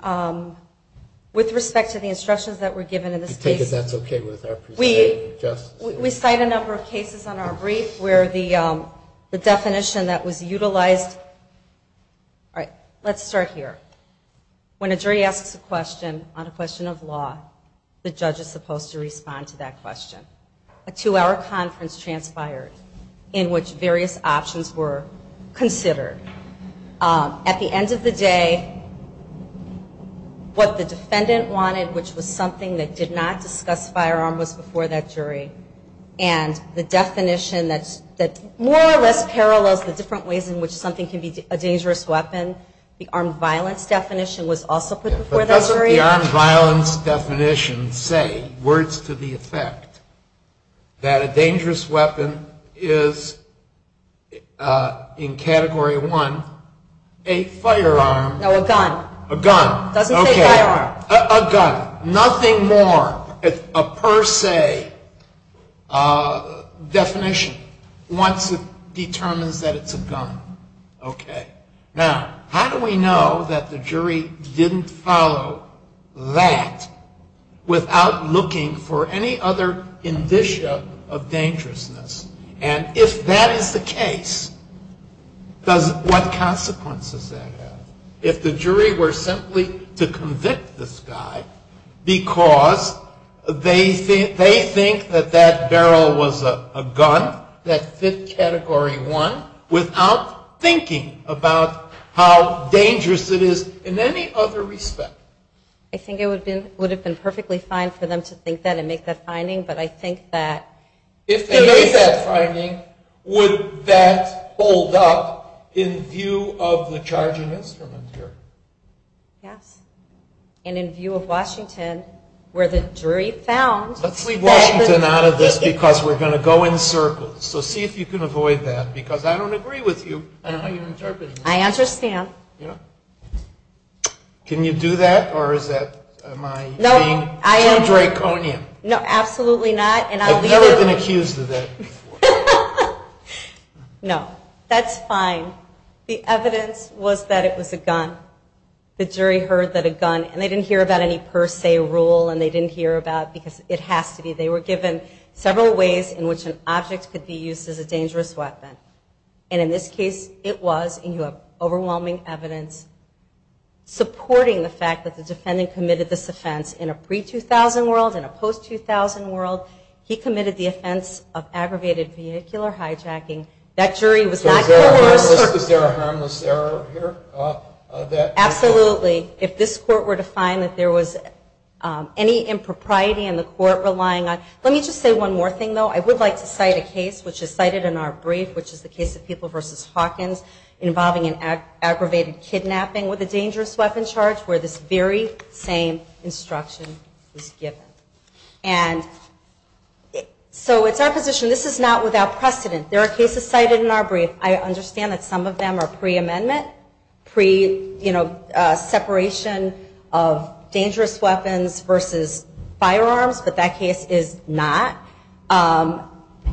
With respect to the instructions that were given in this case. I take it that's okay with our presiding justice? We cite a number of cases on our brief where the definition that was prior, when a jury asks a question on a question of law, the judge is supposed to respond to that question. A two-hour conference transpired in which various options were considered. At the end of the day, what the defendant wanted, which was something that did not discuss firearm, was before that jury. And the definition that more or less parallels the different ways in which something can be a dangerous weapon. The armed violence definition was also put before that jury. But doesn't the armed violence definition say, words to the effect, that a dangerous weapon is, in Category 1, a firearm. No, a gun. A gun. It doesn't say firearm. A gun. Nothing more. A per se definition. Once it determines that it's a gun. Okay. Now, how do we know that the jury didn't follow that without looking for any other indicia of dangerousness? And if that is the case, what consequences does that have? If the jury were simply to convict this guy because they think that that barrel was a gun that fit Category 1 without thinking about how dangerous it is in any other respect. I think it would have been perfectly fine for them to think that and make that finding. But I think that if they made that finding, would that hold up in view of the charging instrument here? Yes. And in view of Washington, where the jury found. Let's leave Washington out of this because we're going to go in circles. So see if you can avoid that. Because I don't agree with you on how you're interpreting this. I understand. Can you do that? Or is that my being too draconian? No, absolutely not. I've never been accused of that before. No, that's fine. The evidence was that it was a gun. The jury heard that a gun, and they didn't hear about any per se rule, and they didn't hear about because it has to be. They were given several ways in which an object could be used as a dangerous weapon. And in this case, it was, and you have overwhelming evidence, supporting the fact that the defendant committed this offense in a pre-2000 world and a post-2000 world. He committed the offense of aggravated vehicular hijacking. That jury was not coerced. Is there a harmless error here? Absolutely. If this court were to find that there was any impropriety in the court relying on. Let me just say one more thing, though. I would like to cite a case, which is cited in our brief, which is the case of People v. Hawkins, involving an aggravated kidnapping with a dangerous weapon charge, where this very same instruction was given. And so it's our position, this is not without precedent. There are cases cited in our brief. I understand that some of them are pre-amendment, pre-separation of dangerous weapons versus firearms, but that case is not.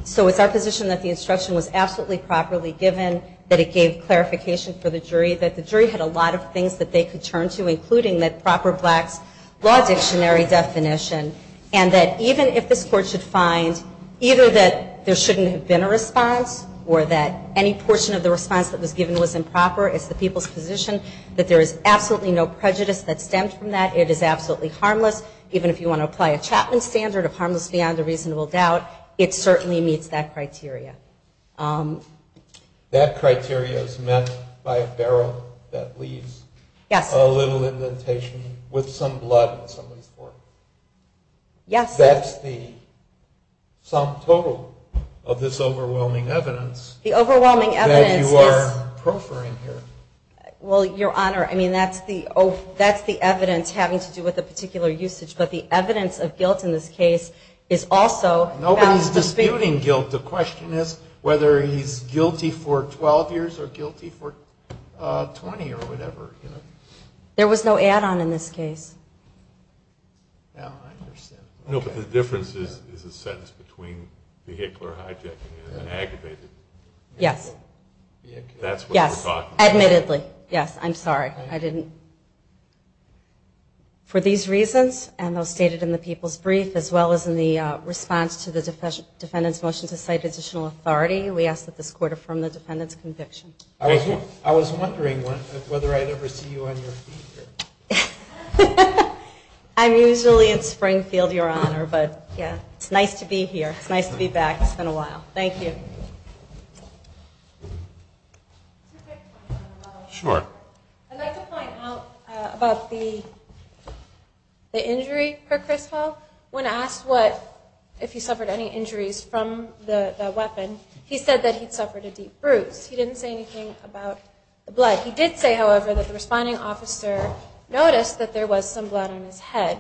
So it's our position that the instruction was absolutely properly given, that it gave clarification for the jury, that the jury had a lot of things that they could turn to, including that proper black's law dictionary definition, and that even if this court should find either that there shouldn't have been a response or that any portion of the response that was given was improper, it's the people's position that there is absolutely no prejudice that stemmed from that. It is absolutely harmless. Even if you want to apply a Chapman standard of harmless beyond a reasonable doubt, it certainly meets that criteria. That criteria is met by a barrel that leaves a little indentation with some blood on somebody's forehead. Yes. That's the sum total of this overwhelming evidence. The overwhelming evidence is. That you are proffering here. Well, Your Honor, I mean, that's the evidence having to do with a particular usage, but the evidence of guilt in this case is also. Nobody's disputing guilt. The question is whether he's guilty for 12 years or guilty for 20 or whatever. There was no add-on in this case. No, I understand. No, but the difference is a sentence between vehicular hijacking and aggravated vehicle. Yes. That's what we're talking about. Yes, admittedly. Yes, I'm sorry. I didn't. For these reasons, and those stated in the people's brief, as well as in the response to the defendant's motion to cite additional authority, we ask that this court affirm the defendant's conviction. I was wondering whether I'd ever see you on your feet here. I'm usually in Springfield, Your Honor, but it's nice to be here. It's nice to be back. It's been a while. Thank you. I'd like to point out about the injury for Chris Hall. When asked if he suffered any injuries from the weapon, he said that he'd suffered a deep bruise. He didn't say anything about the blood. He did say, however, that the responding officer noticed that there was some blood on his head.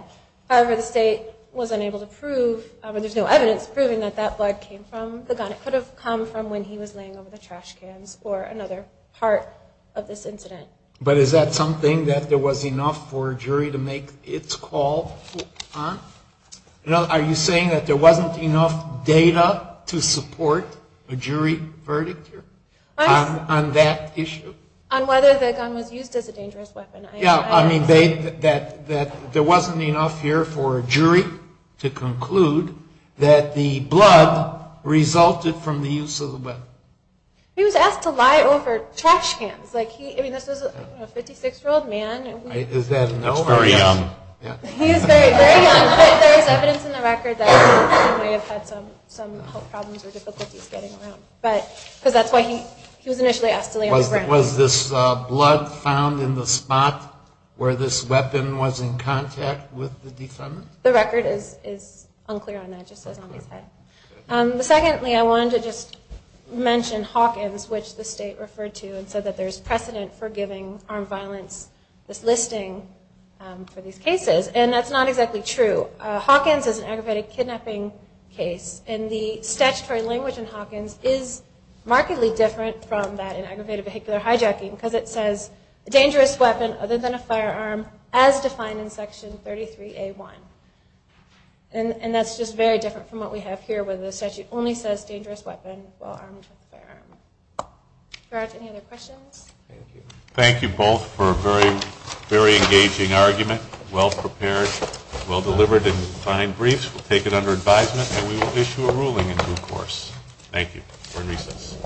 However, the state was unable to prove, or there's no evidence proving that that blood came from the gun. It could have come from when he was laying over the trash cans or another part of this incident. But is that something that there was enough for a jury to make its call on? Are you saying that there wasn't enough data to support a jury verdict here on that issue? On whether the gun was used as a dangerous weapon. Yeah. I mean, there wasn't enough here for a jury to conclude that the blood resulted from the use of the weapon. He was asked to lie over trash cans. I mean, this was a 56-year-old man. Is that an overstatement? He's very young. He is very, very young. But there is evidence in the record that he may have had some health problems or difficulties getting around. Because that's why he was initially asked to lay on the ground. Was this blood found in the spot where this weapon was in contact with the defendant? The record is unclear on that. It just says on his head. Secondly, I wanted to just mention Hawkins, which the state referred to and said that there's precedent for giving armed violence this listing for these cases. And that's not exactly true. Hawkins is an aggravated kidnapping case. And the statutory language in Hawkins is markedly different from that in aggravated vehicular hijacking because it says, a dangerous weapon other than a firearm, as defined in Section 33A1. And that's just very different from what we have here where the statute only says dangerous weapon while armed with a firearm. Gerard, any other questions? Thank you. Thank you both for a very engaging argument, well-prepared, well-delivered and fine briefs. We'll take it under advisement and we will issue a ruling in due course. Thank you. We're in recess.